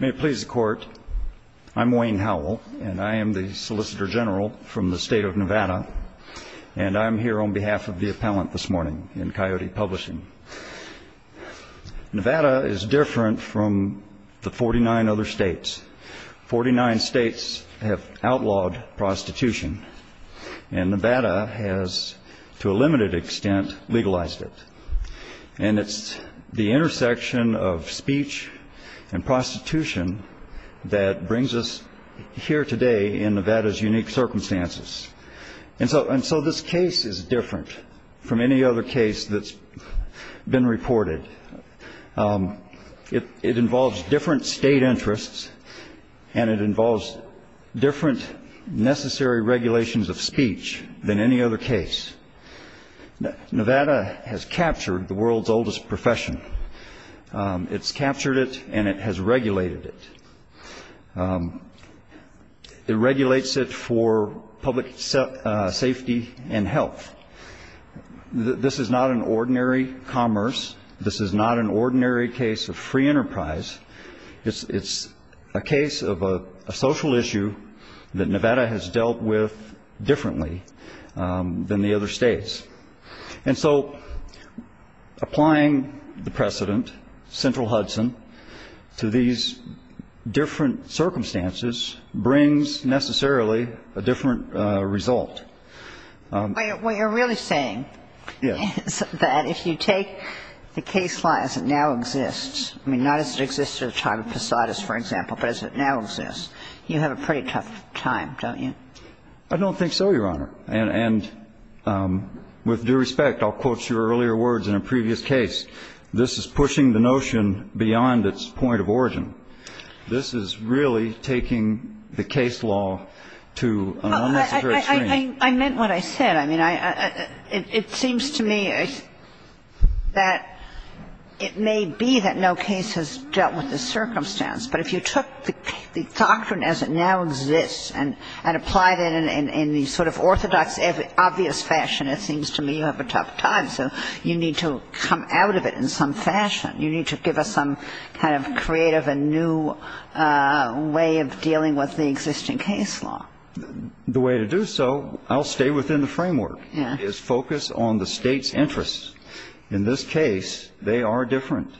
May it please the Court, I'm Wayne Howell, and I am the Solicitor General from the State of Nevada, and I am here on behalf of the Appellant this morning in Coyote Publishing. Nevada is different from the 49 other states. Forty-nine states have outlawed prostitution, and Nevada has, to a limited extent, legalized it. And it's the intersection of speech and prostitution that brings us here today in Nevada's unique circumstances. And so this case is different from any other case that's been reported. It involves different state interests, and it involves different necessary regulations of speech than any other case. Nevada has captured the world's oldest profession. It's captured it, and it has regulated it. It regulates it for public safety and health. This is not an ordinary commerce. This is not an ordinary case of free enterprise. It's a case of a social issue that Nevada has dealt with differently than the other states. And so applying the precedent, Central Hudson, to these different circumstances brings necessarily a different result. What you're really saying is that if you take the case law as it now exists, I mean, not as it existed at the time of Posadas, for example, but as it now exists, you have a pretty tough time, don't you? I don't think so, Your Honor. And with due respect, I'll quote your earlier words in a previous case. This is pushing the notion beyond its point of origin. This is really taking the case law to an unnecessary extreme. I meant what I said. I mean, it seems to me that it may be that no case has dealt with the circumstance. But if you took the doctrine as it now exists and applied it in the sort of orthodox, obvious fashion, it seems to me you have a tough time. So you need to come out of it in some fashion. You need to give us some kind of creative and new way of dealing with the existing case law. The way to do so, I'll stay within the framework, is focus on the state's interests. In this case, they are different.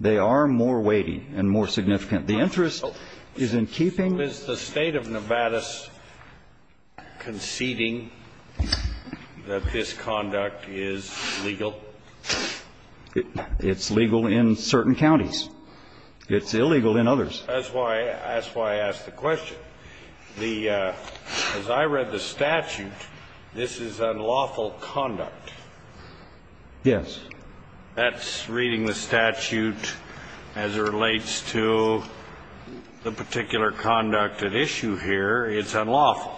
They are more weighty and more significant. The interest is in keeping the State of Nevada's conceding that this conduct is legal. It's legal in certain counties. It's illegal in others. That's why I asked the question. As I read the statute, this is unlawful conduct. Yes. That's reading the statute as it relates to the particular conduct at issue here. It's unlawful.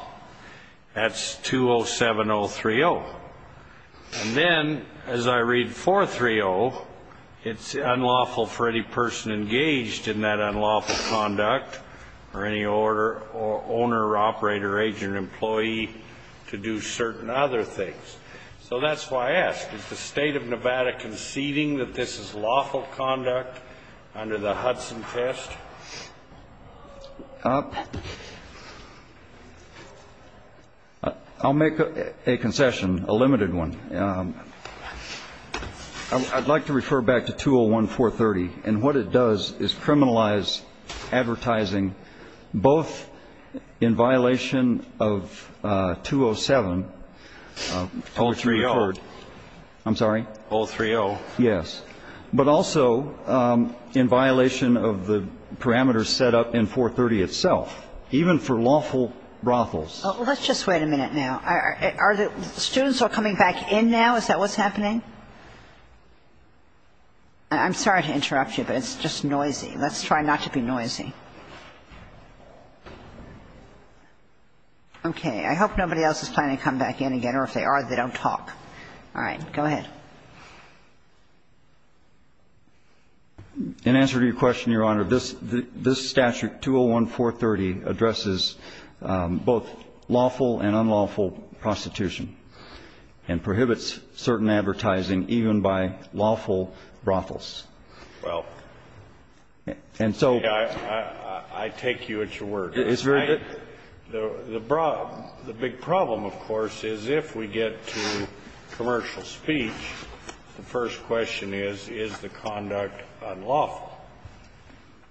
That's 207030. And then, as I read 430, it's unlawful for any person engaged in that unlawful conduct or any owner, operator, agent, employee to do certain other things. So that's why I asked. Is the State of Nevada conceding that this is lawful conduct under the Hudson Test? I'll make a concession, a limited one. I'd like to refer back to 201-430. And what it does is criminalize advertising both in violation of 207, which you referred. 030. I'm sorry? 030. Yes. But also in violation of the parameters set up in 430 itself, even for lawful brothels. Let's just wait a minute now. Are the students all coming back in now? Is that what's happening? I'm sorry to interrupt you, but it's just noisy. Let's try not to be noisy. Okay. I hope nobody else is planning to come back in again, or if they are, they don't talk. All right. Go ahead. In answer to your question, Your Honor, this statute, 201-430, addresses both lawful and unlawful prostitution, and prohibits certain advertising even by lawful brothels. Well, I take you at your word. It's very good. The big problem, of course, is if we get to commercial speech, the first question is, is the conduct unlawful?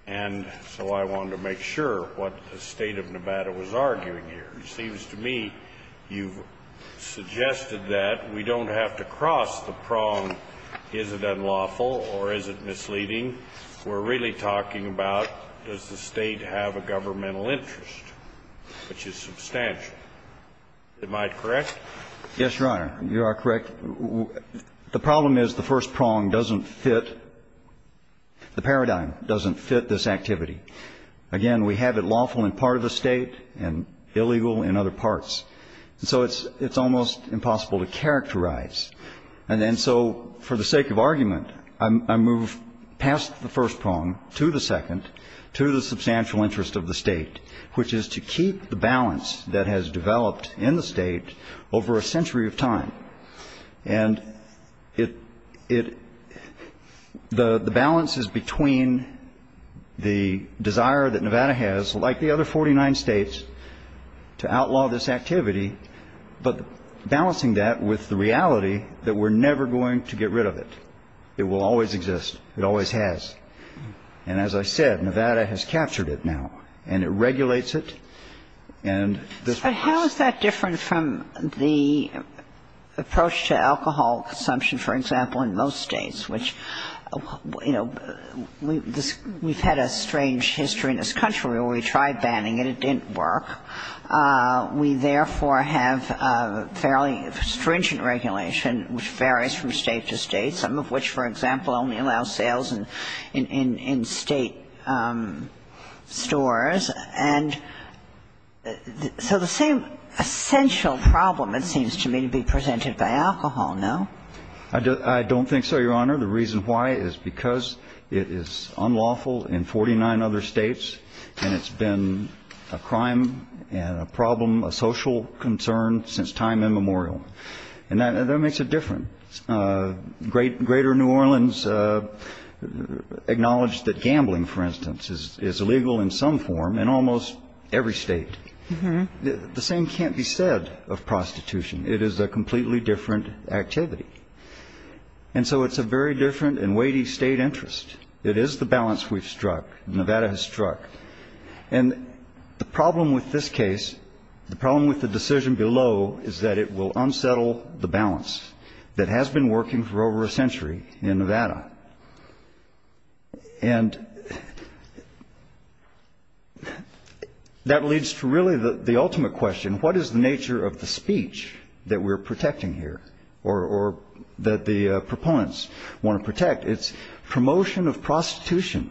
And so I wanted to make sure what the State of Nevada was arguing here. It seems to me you've suggested that we don't have to cross the prong, is it unlawful or is it misleading. We're really talking about does the State have a governmental interest, which is substantial. Am I correct? Yes, Your Honor. You are correct. The problem is the first prong doesn't fit, the paradigm doesn't fit this activity. Again, we have it lawful in part of the State and illegal in other parts. And so it's almost impossible to characterize. And then so for the sake of argument, I move past the first prong to the second, to the substantial interest of the State, which is to keep the balance that has developed in the State over a century of time. And the balance is between the desire that Nevada has, like the other 49 states, to outlaw this activity, but balancing that with the reality that we're never going to get rid of it. It will always exist. It always has. And as I said, Nevada has captured it now. And it regulates it. And this works. But how is that different from the approach to alcohol consumption, for example, in most states, which, you know, we've had a strange history in this country where we tried banning it. It didn't work. We, therefore, have fairly stringent regulation, which varies from State to State, some of which, for example, only allow sales in State stores. And so the same essential problem, it seems to me, to be presented by alcohol, no? I don't think so, Your Honor. The reason why is because it is unlawful in 49 other states, and it's been a crime and a problem, a social concern since time immemorial. And that makes it different. Greater New Orleans acknowledged that gambling, for instance, is illegal in some form in almost every state. The same can't be said of prostitution. It is a completely different activity. And so it's a very different and weighty State interest. It is the balance we've struck. Nevada has struck. And the problem with this case, the problem with the decision below, is that it will unsettle the balance that has been working for over a century in Nevada. And that leads to really the ultimate question, what is the nature of the speech that we're protecting here or that the proponents want to protect? It's promotion of prostitution.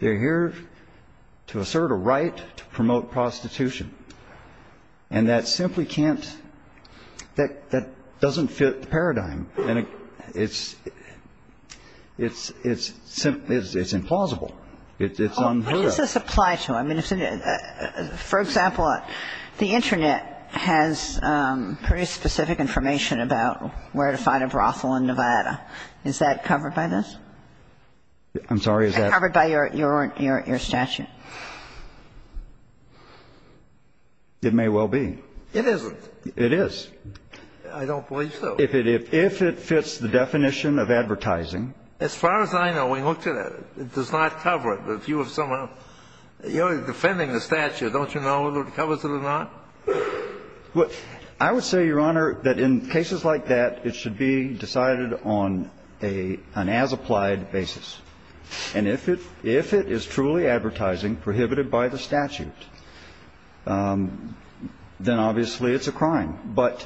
They're here to assert a right to promote prostitution. And that simply can't, that doesn't fit the paradigm. And it's simply, it's implausible. It's unheard of. What does this apply to? I mean, for example, the Internet has pretty specific information about where to find a brothel in Nevada. Is that covered by this? I'm sorry, is that? It's covered by your statute. It may well be. It isn't. It is. I don't believe so. If it fits the definition of advertising. As far as I know, we looked at it. It does not cover it. But if you have somehow, you're defending the statute. Don't you know whether it covers it or not? Well, I would say, Your Honor, that in cases like that, it should be decided on an as-applied basis. And if it is truly advertising prohibited by the statute, then obviously it's a crime. But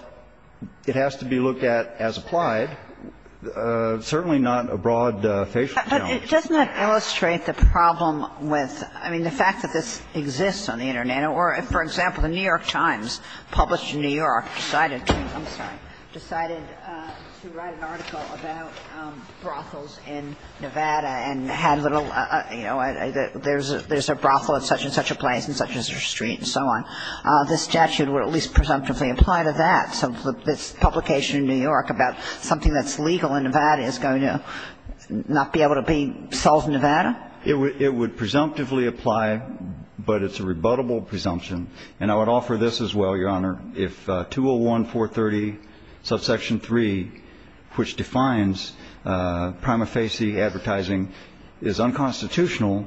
it has to be looked at as applied, certainly not a broad facial challenge. But doesn't that illustrate the problem with, I mean, the fact that this exists on the Internet? Or if, for example, the New York Times published in New York decided to, I'm sorry, decided to write an article about brothels in Nevada and had little, you know, there's a brothel at such-and-such a place and such-and-such a street and so on, this statute would at least presumptively apply to that. So this publication in New York about something that's legal in Nevada is going to not be able to be sold in Nevada? It would presumptively apply, but it's a rebuttable presumption. And I would offer this as well, Your Honor. If 201-430, subsection 3, which defines prima facie advertising, is unconstitutional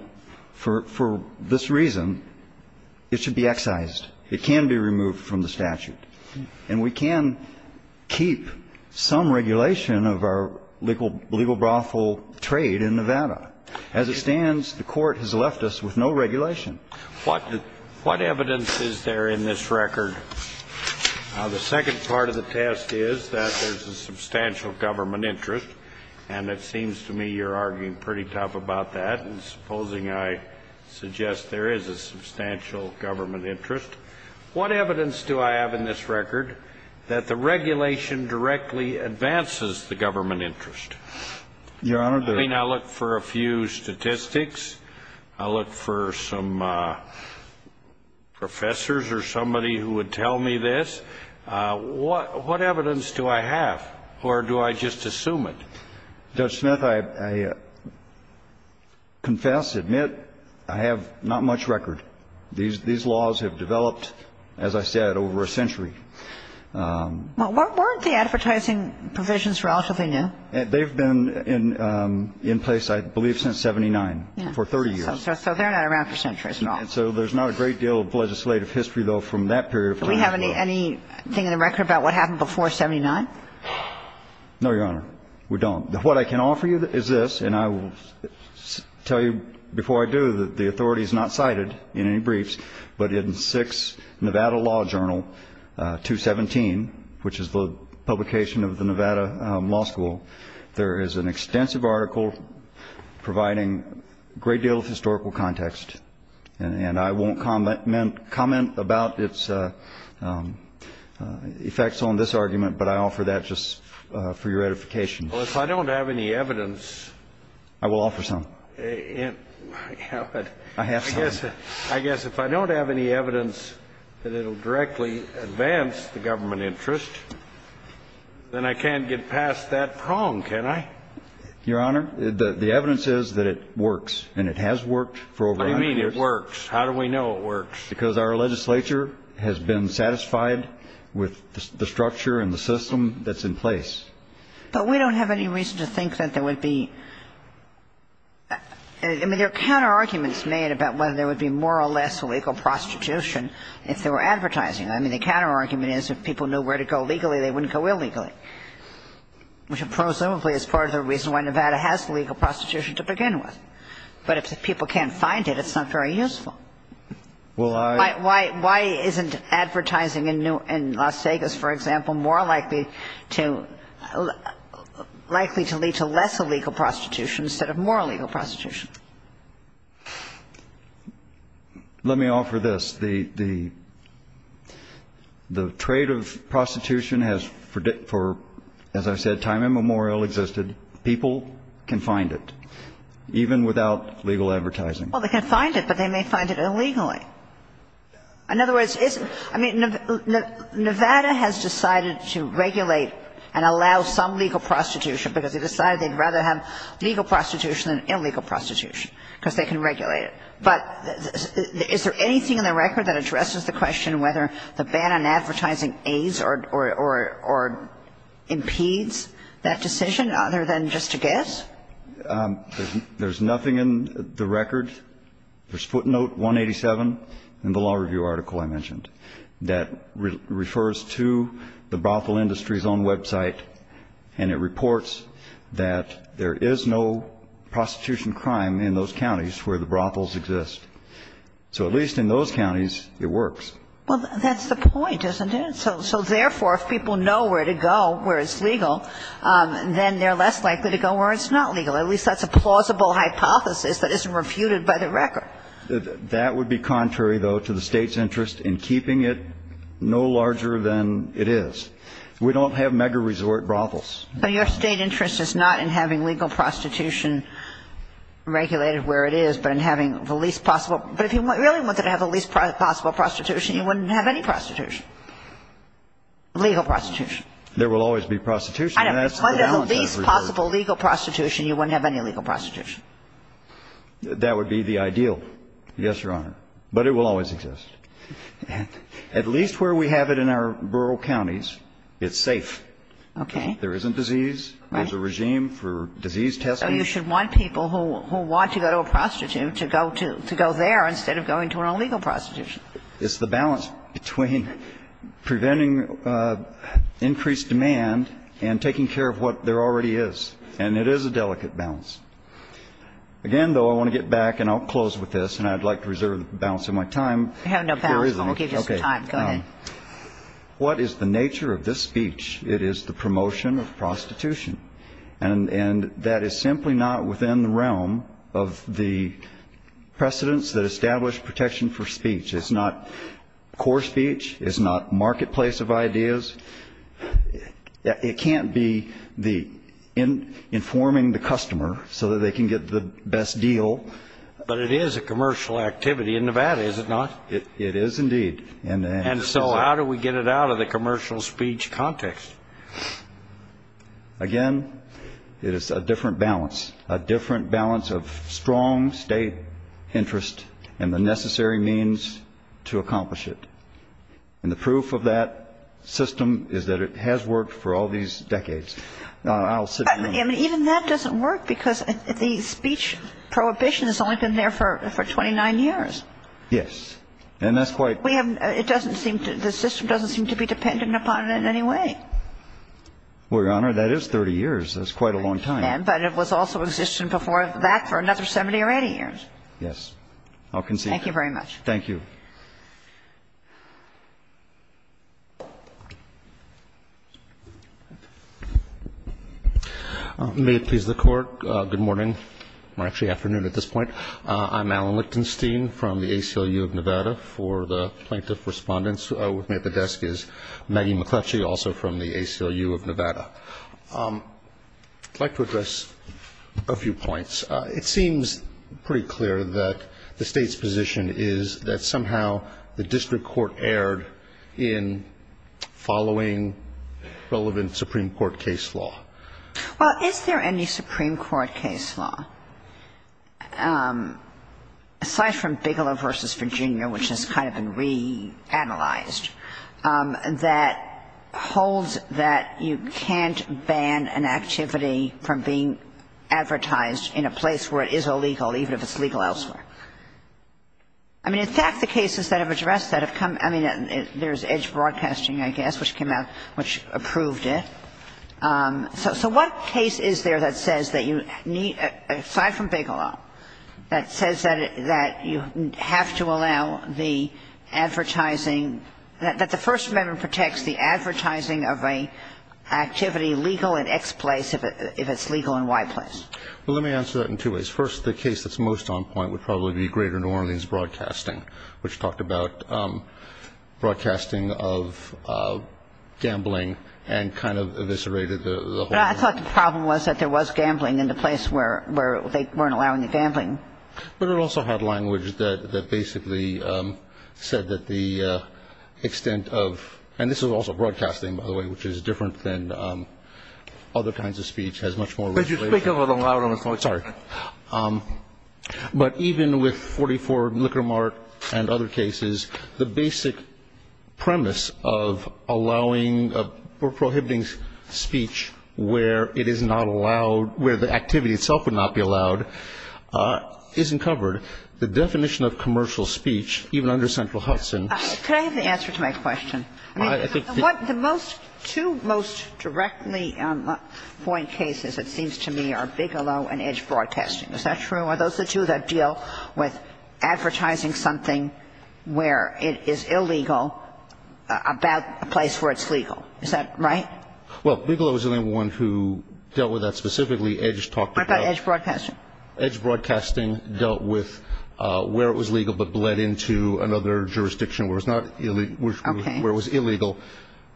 for this reason, it should be excised. It can be removed from the statute. And we can keep some regulation of our legal brothel trade in Nevada. As it stands, the Court has left us with no regulation. What evidence is there in this record? The second part of the test is that there's a substantial government interest, and it seems to me you're arguing pretty tough about that. And supposing I suggest there is a substantial government interest, what evidence do I have in this record that the regulation directly advances the government interest? Your Honor, the ---- I mean, I look for a few statistics. I look for some professors or somebody who would tell me this. What evidence do I have, or do I just assume it? Judge Smith, I confess, admit, I have not much record. These laws have developed, as I said, over a century. Well, weren't the advertising provisions relatively new? They've been in place, I believe, since 79 for 30 years. So they're not around for centuries at all. So there's not a great deal of legislative history, though, from that period. Do we have anything in the record about what happened before 79? No, Your Honor, we don't. What I can offer you is this, and I will tell you before I do that the authority is not cited in any briefs, but in 6 Nevada Law Journal 217, which is the publication of the Nevada Law School, there is an extensive article providing a great deal of historical context. And I won't comment about its effects on this argument, but I offer that just for your edification. Well, if I don't have any evidence ---- I will offer some. I have some. I guess if I don't have any evidence that it will directly advance the government interest, then I can't get past that prong, can I? Your Honor, the evidence is that it works, and it has worked for over 100 years. What do you mean it works? How do we know it works? Because our legislature has been satisfied with the structure and the system that's in place. But we don't have any reason to think that there would be ---- I mean, there are counterarguments made about whether there would be more or less illegal prostitution if there were advertising. I mean, the counterargument is if people knew where to go legally, they wouldn't go illegally, which presumably is part of the reason why Nevada has legal prostitution to begin with. But if people can't find it, it's not very useful. Well, I ---- Why isn't advertising in Las Vegas, for example, more likely to lead to less illegal prostitution instead of more illegal prostitution? Let me offer this. The trade of prostitution has for, as I said, time immemorial existed. People can find it, even without legal advertising. Well, they can find it, but they may find it illegally. In other words, isn't ---- I mean, Nevada has decided to regulate and allow some legal prostitution because they decided they'd rather have legal prostitution than illegal prostitution because they can regulate it. But is there anything in the record that addresses the question whether the ban on advertising aids or impedes that decision other than just a guess? There's nothing in the record. There's footnote 187 in the law review article I mentioned that refers to the brothel industry's own website, and it reports that there is no prostitution crime in those counties where the brothels exist. So at least in those counties, it works. Well, that's the point, isn't it? So therefore, if people know where to go where it's legal, then they're less likely to go where it's not legal. At least that's a plausible hypothesis that isn't refuted by the record. That would be contrary, though, to the State's interest in keeping it no larger than it is. We don't have mega-resort brothels. But your State interest is not in having legal prostitution regulated where it is, but in having the least possible. But if you really wanted to have the least possible prostitution, you wouldn't have any prostitution, legal prostitution. There will always be prostitution. I know. Under the least possible legal prostitution, you wouldn't have any legal prostitution. That would be the ideal, yes, Your Honor. But it will always exist. At least where we have it in our rural counties, it's safe. Okay. There isn't disease. Right. There's a regime for disease testing. So you should want people who want to go to a prostitute to go there instead of going to an illegal prostitution. It's the balance between preventing increased demand and taking care of what there already is. And it is a delicate balance. Again, though, I want to get back, and I'll close with this, and I'd like to reserve the balance of my time. You have no balance. We'll give you some time. Go ahead. What is the nature of this speech? It is the promotion of prostitution. And that is simply not within the realm of the precedents that establish protection for speech. It's not core speech. It's not marketplace of ideas. It can't be the informing the customer so that they can get the best deal. But it is a commercial activity in Nevada, is it not? It is indeed. And so how do we get it out of the commercial speech context? Again, it is a different balance, a different balance of strong state interest and the necessary means to accomplish it. And the proof of that system is that it has worked for all these decades. Even that doesn't work because the speech prohibition has only been there for 29 years. Yes. And that's quite ---- We haven't ---- it doesn't seem to ---- the system doesn't seem to be dependent upon it in any way. Well, Your Honor, that is 30 years. That's quite a long time. Right. But it was also existing before that for another 70 or 80 years. Yes. I'll concede that. Thank you very much. Thank you. May it please the Court. Good morning. Actually, afternoon at this point. I'm Alan Lichtenstein from the ACLU of Nevada. For the plaintiff respondents with me at the desk is Maggie McCletchie, also from the ACLU of Nevada. I'd like to address a few points. It seems pretty clear that the State's position is that somehow the district court erred in following relevant Supreme Court case law. Well, is there any Supreme Court case law, aside from Bigelow v. Virginia, which has kind of been reanalyzed, that holds that you can't ban an activity from being advertised in a place where it is illegal, even if it's legal elsewhere? I mean, in fact, the cases that have addressed that have come ---- I mean, there's Edge Broadcasting, I guess, which came out, which approved it. So what case is there that says that you need, aside from Bigelow, that says that you have to allow the advertising, that the First Amendment protects the advertising of an activity legal in X place if it's legal in Y place? Well, let me answer that in two ways. First, the case that's most on point would probably be Greater New Orleans Broadcasting, which talked about broadcasting of gambling and kind of eviscerated the whole thing. But I thought the problem was that there was gambling in the place where they weren't allowing the gambling. But it also had language that basically said that the extent of ---- and this was also broadcasting, by the way, which is different than other kinds of speech, has much more ---- But you speak a little louder on this one. Sorry. But even with 44 Liquor Mart and other cases, the basic premise of allowing or prohibiting speech where it is not allowed, where the activity itself would not be allowed, isn't covered. The definition of commercial speech, even under Central Hudson ---- Could I have the answer to my question? I mean, what the most ---- two most directly on point cases, it seems to me, are Bigelow and Edge Broadcasting. Is that true? Are those the two that deal with advertising something where it is illegal about a place where it's legal? Is that right? Well, Bigelow is the only one who dealt with that specifically. Edge talked about ---- What about Edge Broadcasting? Edge Broadcasting dealt with where it was legal but bled into another jurisdiction where it's not ---- Okay. Where it was illegal,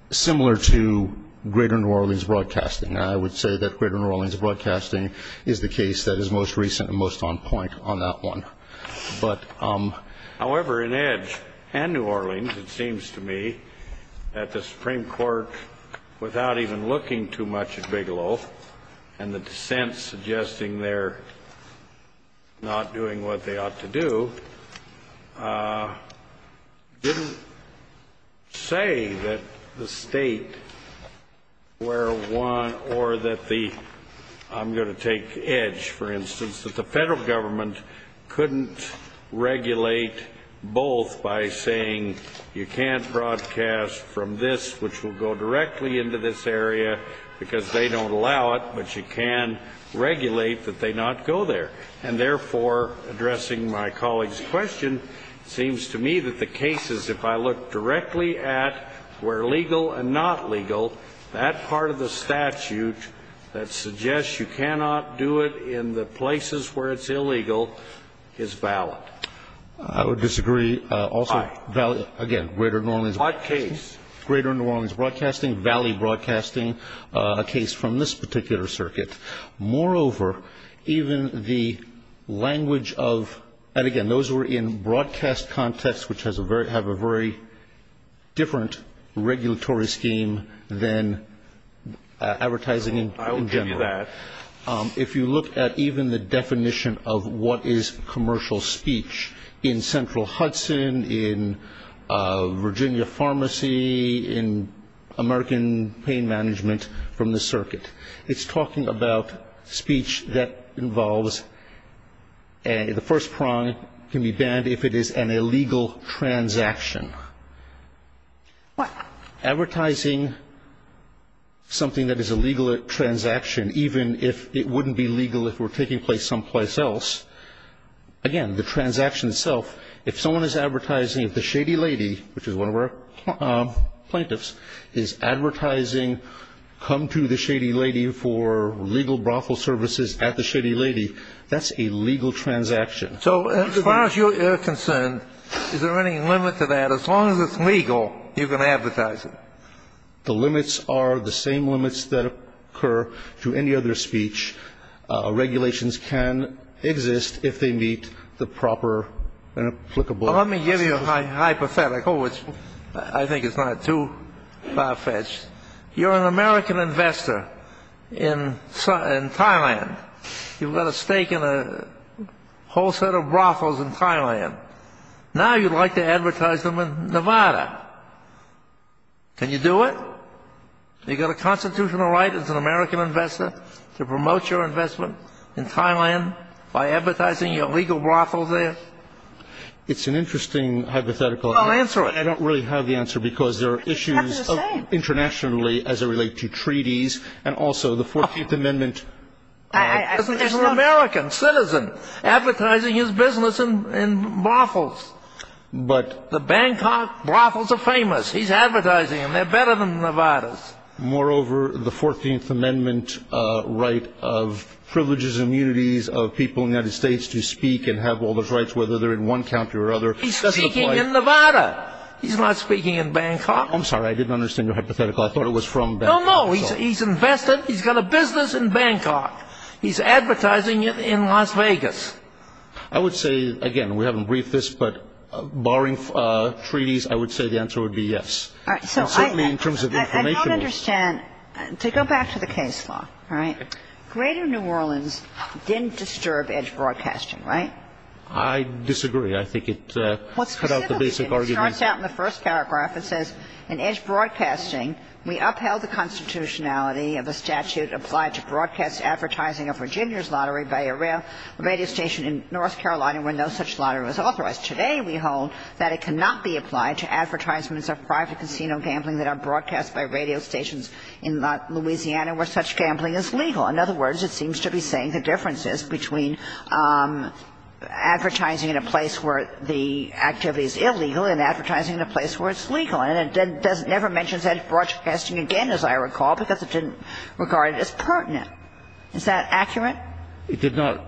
similar to Greater New Orleans Broadcasting. I would say that Greater New Orleans Broadcasting is the case that is most recent and most on point on that one. But ---- However, in Edge and New Orleans, it seems to me that the Supreme Court, without even looking too much at Bigelow and the dissents suggesting they're not doing what they ought to do, didn't say that the state where one or that the ---- I'm going to take Edge, for instance, that the federal government couldn't regulate both by saying you can't broadcast from this which will go directly into this area because they don't allow it, but you can regulate that they not go there. And, therefore, addressing my colleague's question, it seems to me that the case is if I look directly at where legal and not legal, that part of the statute that suggests you cannot do it in the places where it's illegal is valid. I would disagree also ---- Why? Again, Greater New Orleans ---- What case? Greater New Orleans Broadcasting, Valley Broadcasting, a case from this particular Moreover, even the language of ---- and, again, those were in broadcast context which have a very different regulatory scheme than advertising in general. I will give you that. If you look at even the definition of what is commercial speech in Central Hudson, in Virginia that involves the first prong can be banned if it is an illegal transaction. What? Advertising something that is a legal transaction, even if it wouldn't be legal if it were taking place someplace else, again, the transaction itself, if someone is advertising which is one of our plaintiffs, is advertising come to the Shady Lady for legal brothel services at the Shady Lady, that's a legal transaction. So as far as you're concerned, is there any limit to that? As long as it's legal, you're going to advertise it. The limits are the same limits that occur to any other speech. Well, let me give you a hypothetical, which I think is not too far-fetched. You're an American investor in Thailand. You've got a stake in a whole set of brothels in Thailand. Now you'd like to advertise them in Nevada. Can you do it? You've got a constitutional right as an American investor to promote your investment in Thailand by advertising your legal brothels there? It's an interesting hypothetical. Well, answer it. I don't really have the answer because there are issues internationally as it relates to treaties and also the 14th Amendment. He's an American citizen advertising his business in brothels. The Bangkok brothels are famous. He's advertising them. They're better than Nevada's. Moreover, the 14th Amendment right of privileges and immunities of people in the United States to speak and have all those rights, whether they're in one county or another, doesn't apply. He's speaking in Nevada. He's not speaking in Bangkok. I'm sorry. I didn't understand your hypothetical. I thought it was from Bangkok. No, no. He's invested. He's got a business in Bangkok. He's advertising it in Las Vegas. I would say, again, we haven't briefed this, but barring treaties, I would say the answer would be yes. And certainly in terms of information. I don't understand. To go back to the case law, all right? Greater New Orleans didn't disturb edge broadcasting, right? I disagree. I think it cut out the basic argument. It starts out in the first paragraph. It says, in edge broadcasting, we upheld the constitutionality of a statute applied to broadcast advertising of Virginia's lottery by a radio station in North Carolina when no such lottery was authorized. Today we hold that it cannot be applied to advertisements of private casino gambling that are broadcast by radio stations in Louisiana where such gambling is legal. In other words, it seems to be saying the difference is between advertising in a place where the activity is illegal and advertising in a place where it's legal. And it never mentions edge broadcasting again, as I recall, because it didn't regard it as pertinent. Is that accurate? It did not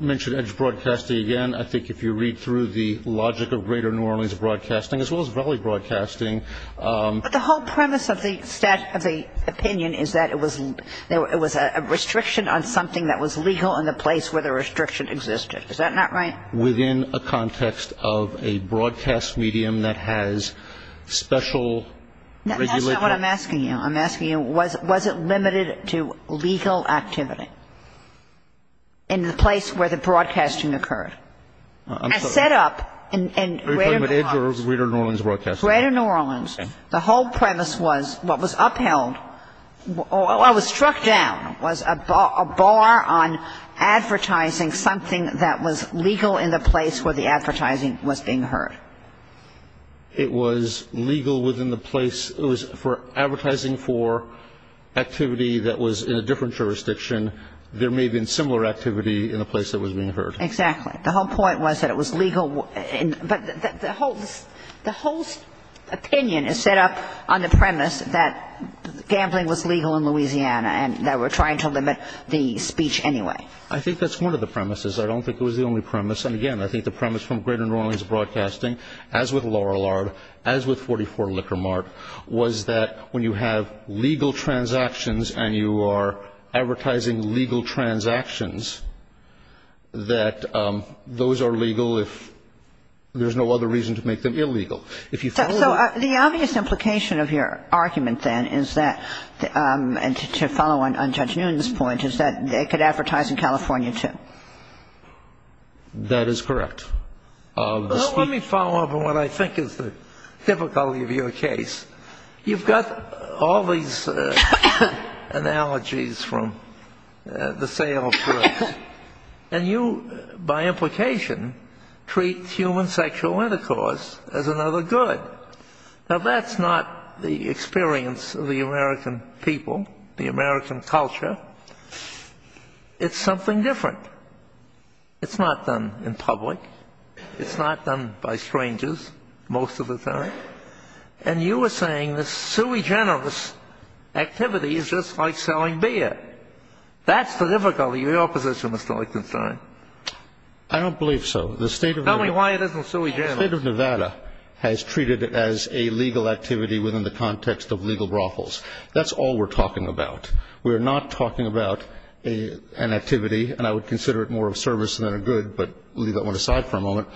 mention edge broadcasting again. I think if you read through the logic of Greater New Orleans Broadcasting, as well as Valley Broadcasting. But the whole premise of the opinion is that it was a restriction on something that was legal in the place where the restriction existed. Is that not right? Within a context of a broadcast medium that has special regulation. That's not what I'm asking you. I'm asking you, was it limited to legal activity in the place where the broadcasting occurred? As set up in Greater New Orleans. Are you talking about edge or Greater New Orleans Broadcasting? Greater New Orleans. The whole premise was what was upheld or was struck down was a bar on advertising something that was legal in the place where the advertising was being heard. It was legal within the place. It was for advertising for activity that was in a different jurisdiction. There may have been similar activity in a place that was being heard. Exactly. The whole point was that it was legal. But the whole opinion is set up on the premise that gambling was legal in Louisiana and that we're trying to limit the speech anyway. I think that's one of the premises. I don't think it was the only premise. And, again, I think the premise from Greater New Orleans Broadcasting, as with Loral Art, as with 44 Liquor Mart, was that when you have legal transactions and you are advertising legal transactions, that those are legal if there's no other reason to make them illegal. So the obvious implication of your argument then is that, and to follow on Judge Newton's point, is that they could advertise in California, too. That is correct. Let me follow up on what I think is the difficulty of your case. You've got all these analogies from the sale of drugs. And you, by implication, treat human sexual intercourse as another good. Now, that's not the experience of the American people, the American culture. It's something different. It's not done in public. It's not done by strangers most of the time. And you are saying this sui generis activity is just like selling beer. That's the difficulty of your position, Mr. Lichtenstein. I don't believe so. Tell me why it isn't sui generis. The state of Nevada has treated it as a legal activity within the context of legal brothels. That's all we're talking about. We're not talking about an activity, and I would consider it more of a service than a good, but we'll leave that one aside for a moment.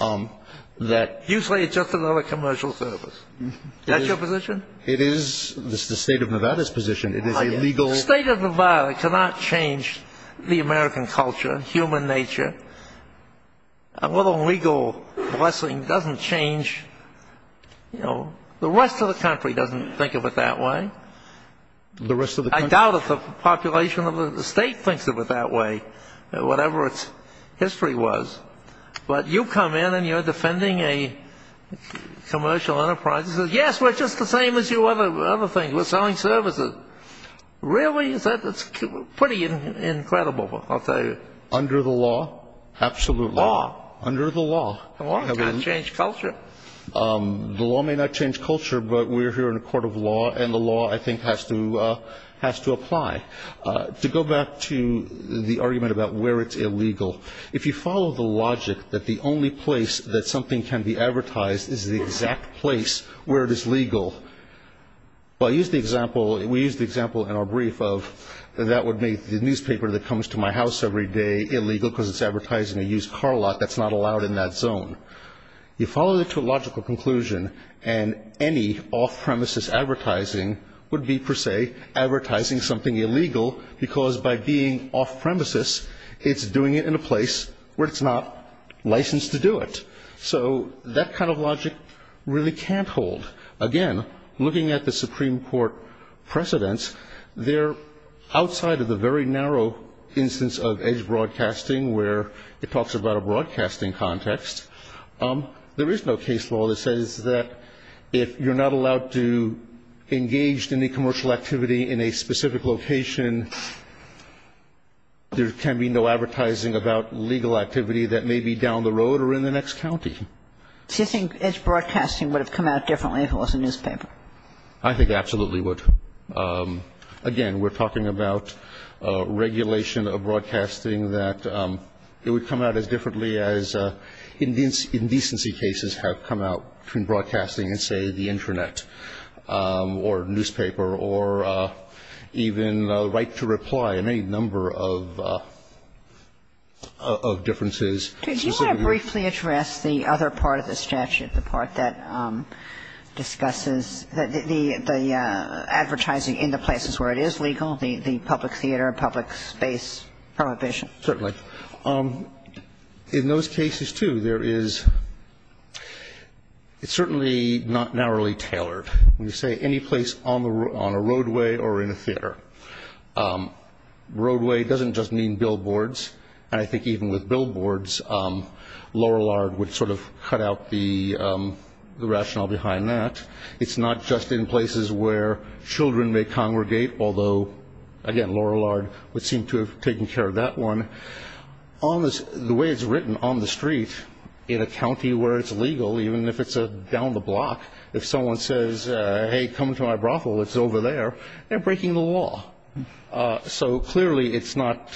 You say it's just another commercial service. Is that your position? It is. This is the state of Nevada's position. The state of Nevada cannot change the American culture, human nature. A little legal blessing doesn't change, you know. The rest of the country doesn't think of it that way. The rest of the country? I doubt if the population of the state thinks of it that way, whatever its history was. But you come in and you're defending a commercial enterprise and say, yes, we're just the same as you other things. We're selling services. Really? That's pretty incredible, I'll tell you. Under the law, absolute law. Law? Under the law. The law cannot change culture. The law may not change culture, but we're here in a court of law, and the law, I think, has to apply. To go back to the argument about where it's illegal, if you follow the logic that the only place that something can be advertised is the exact place where it is legal, well, we used the example in our brief of that would make the newspaper that comes to my house every day illegal because it's advertising a used car lot that's not allowed in that zone. You follow the logical conclusion, and any off-premises advertising would be, per se, advertising something illegal, because by being off-premises, it's doing it in a place where it's not licensed to do it. So that kind of logic really can't hold. Again, looking at the Supreme Court precedents, they're outside of the very narrow instance of edge broadcasting where it talks about a broadcasting context. There is no case law that says that if you're not allowed to engage in any commercial activity in a specific location, there can be no advertising about legal activity that may be down the road or in the next county. Do you think edge broadcasting would have come out differently if it was a newspaper? I think it absolutely would. Again, we're talking about regulation of broadcasting that it would come out as differently as indecency cases have come out from broadcasting in, say, the intranet or newspaper or even right to reply and any number of differences. Could you briefly address the other part of the statute, the part that discusses the advertising in the places where it is legal, the public theater, public space prohibition? Certainly. In those cases, too, there is – it's certainly not narrowly tailored. When you say any place on a roadway or in a theater, roadway doesn't just mean billboards. And I think even with billboards, Lorillard would sort of cut out the rationale behind that. It's not just in places where children may congregate, although, again, Lorillard would seem to have taken care of that one. The way it's written on the street in a county where it's legal, even if it's down the block, if someone says, hey, come to my brothel, it's over there, they're breaking the law. So clearly it's not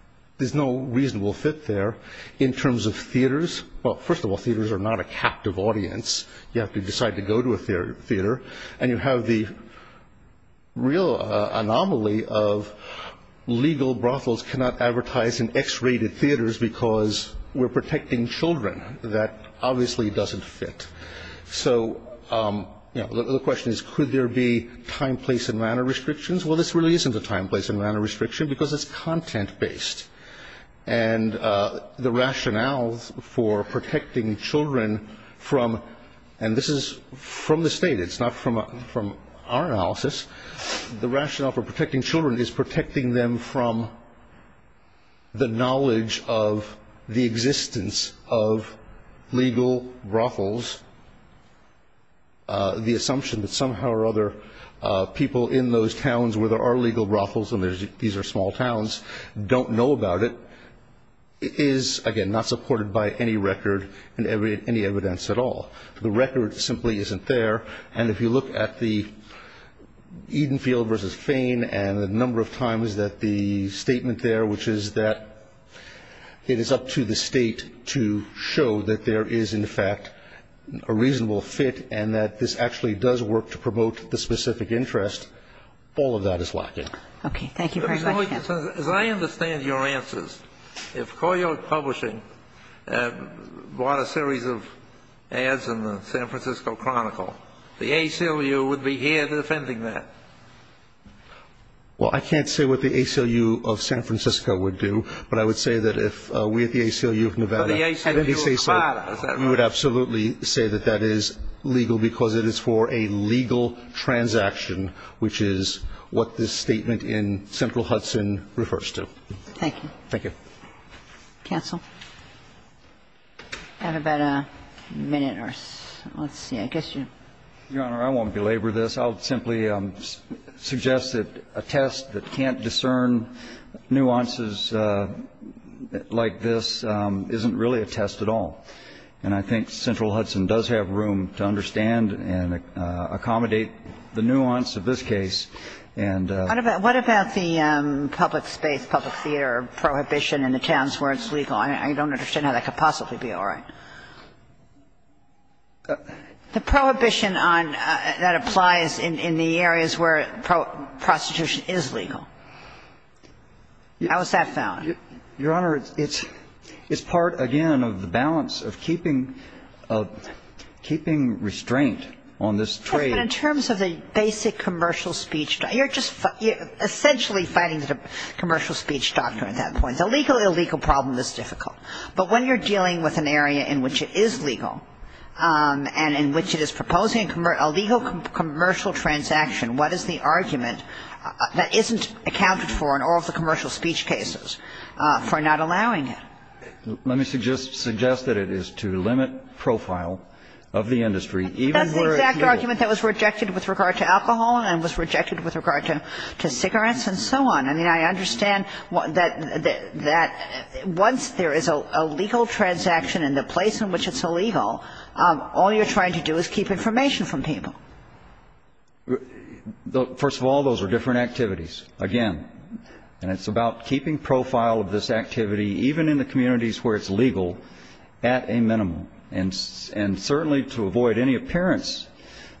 – there's no reasonable fit there in terms of theaters. Well, first of all, theaters are not a captive audience. You have to decide to go to a theater. And you have the real anomaly of legal brothels cannot advertise in X-rated theaters because we're protecting children. That obviously doesn't fit. So the question is, could there be time, place, and manner restrictions? Well, this really isn't a time, place, and manner restriction because it's content-based. And the rationale for protecting children from – and this is from the state. It's not from our analysis. The rationale for protecting children is protecting them from the knowledge of the existence of legal brothels, the assumption that somehow or other people in those towns where there are legal brothels, and these are small towns, don't know about it, is, again, not supported by any record and any evidence at all. The record simply isn't there. And if you look at the Edenfield v. Fane and the number of times that the statement there, which is that it is up to the state to show that there is, in fact, a reasonable fit and that this actually does work to promote the specific interest, all of that is lacking. Okay. Thank you for your question. As I understand your answers, if Coyote Publishing bought a series of ads in the San Francisco Chronicle, the ACLU would be here defending that. Well, I can't say what the ACLU of San Francisco would do, but I would say that if we at the ACLU of Nevada would absolutely say that that is legal because it is for a legal transaction, which is what this statement in Central Hudson refers to. Thank you. Thank you. Counsel. I have about a minute or so. Let's see. I guess you. Your Honor, I won't belabor this. I'll simply suggest that a test that can't discern nuances like this isn't really a test at all. And I think Central Hudson does have room to understand and accommodate the nuance of this case. What about the public space, public theater prohibition in the towns where it's legal? I don't understand how that could possibly be all right. The prohibition on that applies in the areas where prostitution is legal. How is that found? Your Honor, it's part, again, of the balance of keeping restraint on this trade. But in terms of the basic commercial speech, you're just essentially fighting the commercial speech doctrine at that point. The legal illegal problem is difficult. But when you're dealing with an area in which it is legal and in which it is proposing a legal commercial transaction, what is the argument that isn't accounted for in all of the commercial speech cases for not allowing it? Let me suggest that it is to limit profile of the industry even where it's legal. But that's the exact argument that was rejected with regard to alcohol and was rejected with regard to cigarettes and so on. I mean, I understand that once there is a legal transaction in the place in which it's illegal, all you're trying to do is keep information from people. First of all, those are different activities, again. And it's about keeping profile of this activity, even in the communities where it's legal, at a minimum. And certainly to avoid any appearance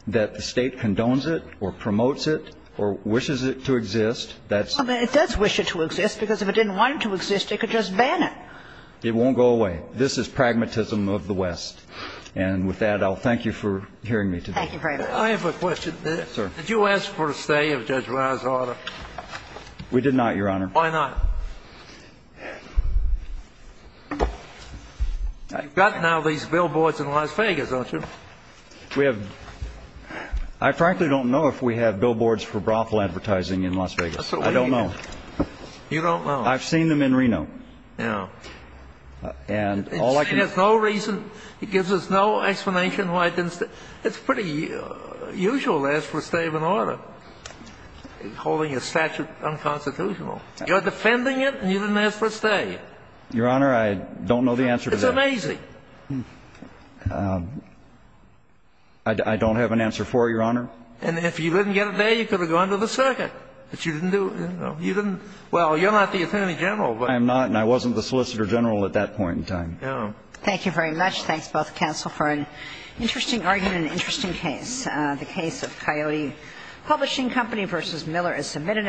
that the State condones it or promotes it or wishes it to exist. I mean, it does wish it to exist, because if it didn't want it to exist, it could just ban it. It won't go away. This is pragmatism of the West. And with that, I'll thank you for hearing me today. Thank you very much. I have a question. Did you ask for a stay of Judge Reiner's order? We did not, Your Honor. Why not? You've got now these billboards in Las Vegas, don't you? We have. I frankly don't know if we have billboards for brothel advertising in Las Vegas. I don't know. You don't know. I've seen them in Reno. Yeah. And all I can say is no reason. It gives us no explanation why it didn't stay. It's pretty usual to ask for a stay of an order, holding a statute unconstitutional. You're defending it, and you didn't ask for a stay. Your Honor, I don't know the answer to that. It's amazing. I don't have an answer for it, Your Honor. And if you didn't get a day, you could have gone to the circuit. But you didn't do it. You didn't. Well, you're not the Attorney General. I am not, and I wasn't the Solicitor General at that point in time. Thank you very much. Thanks, both counsel, for an interesting argument and an interesting case. The case of Coyote Publishing Company v. Miller is submitted.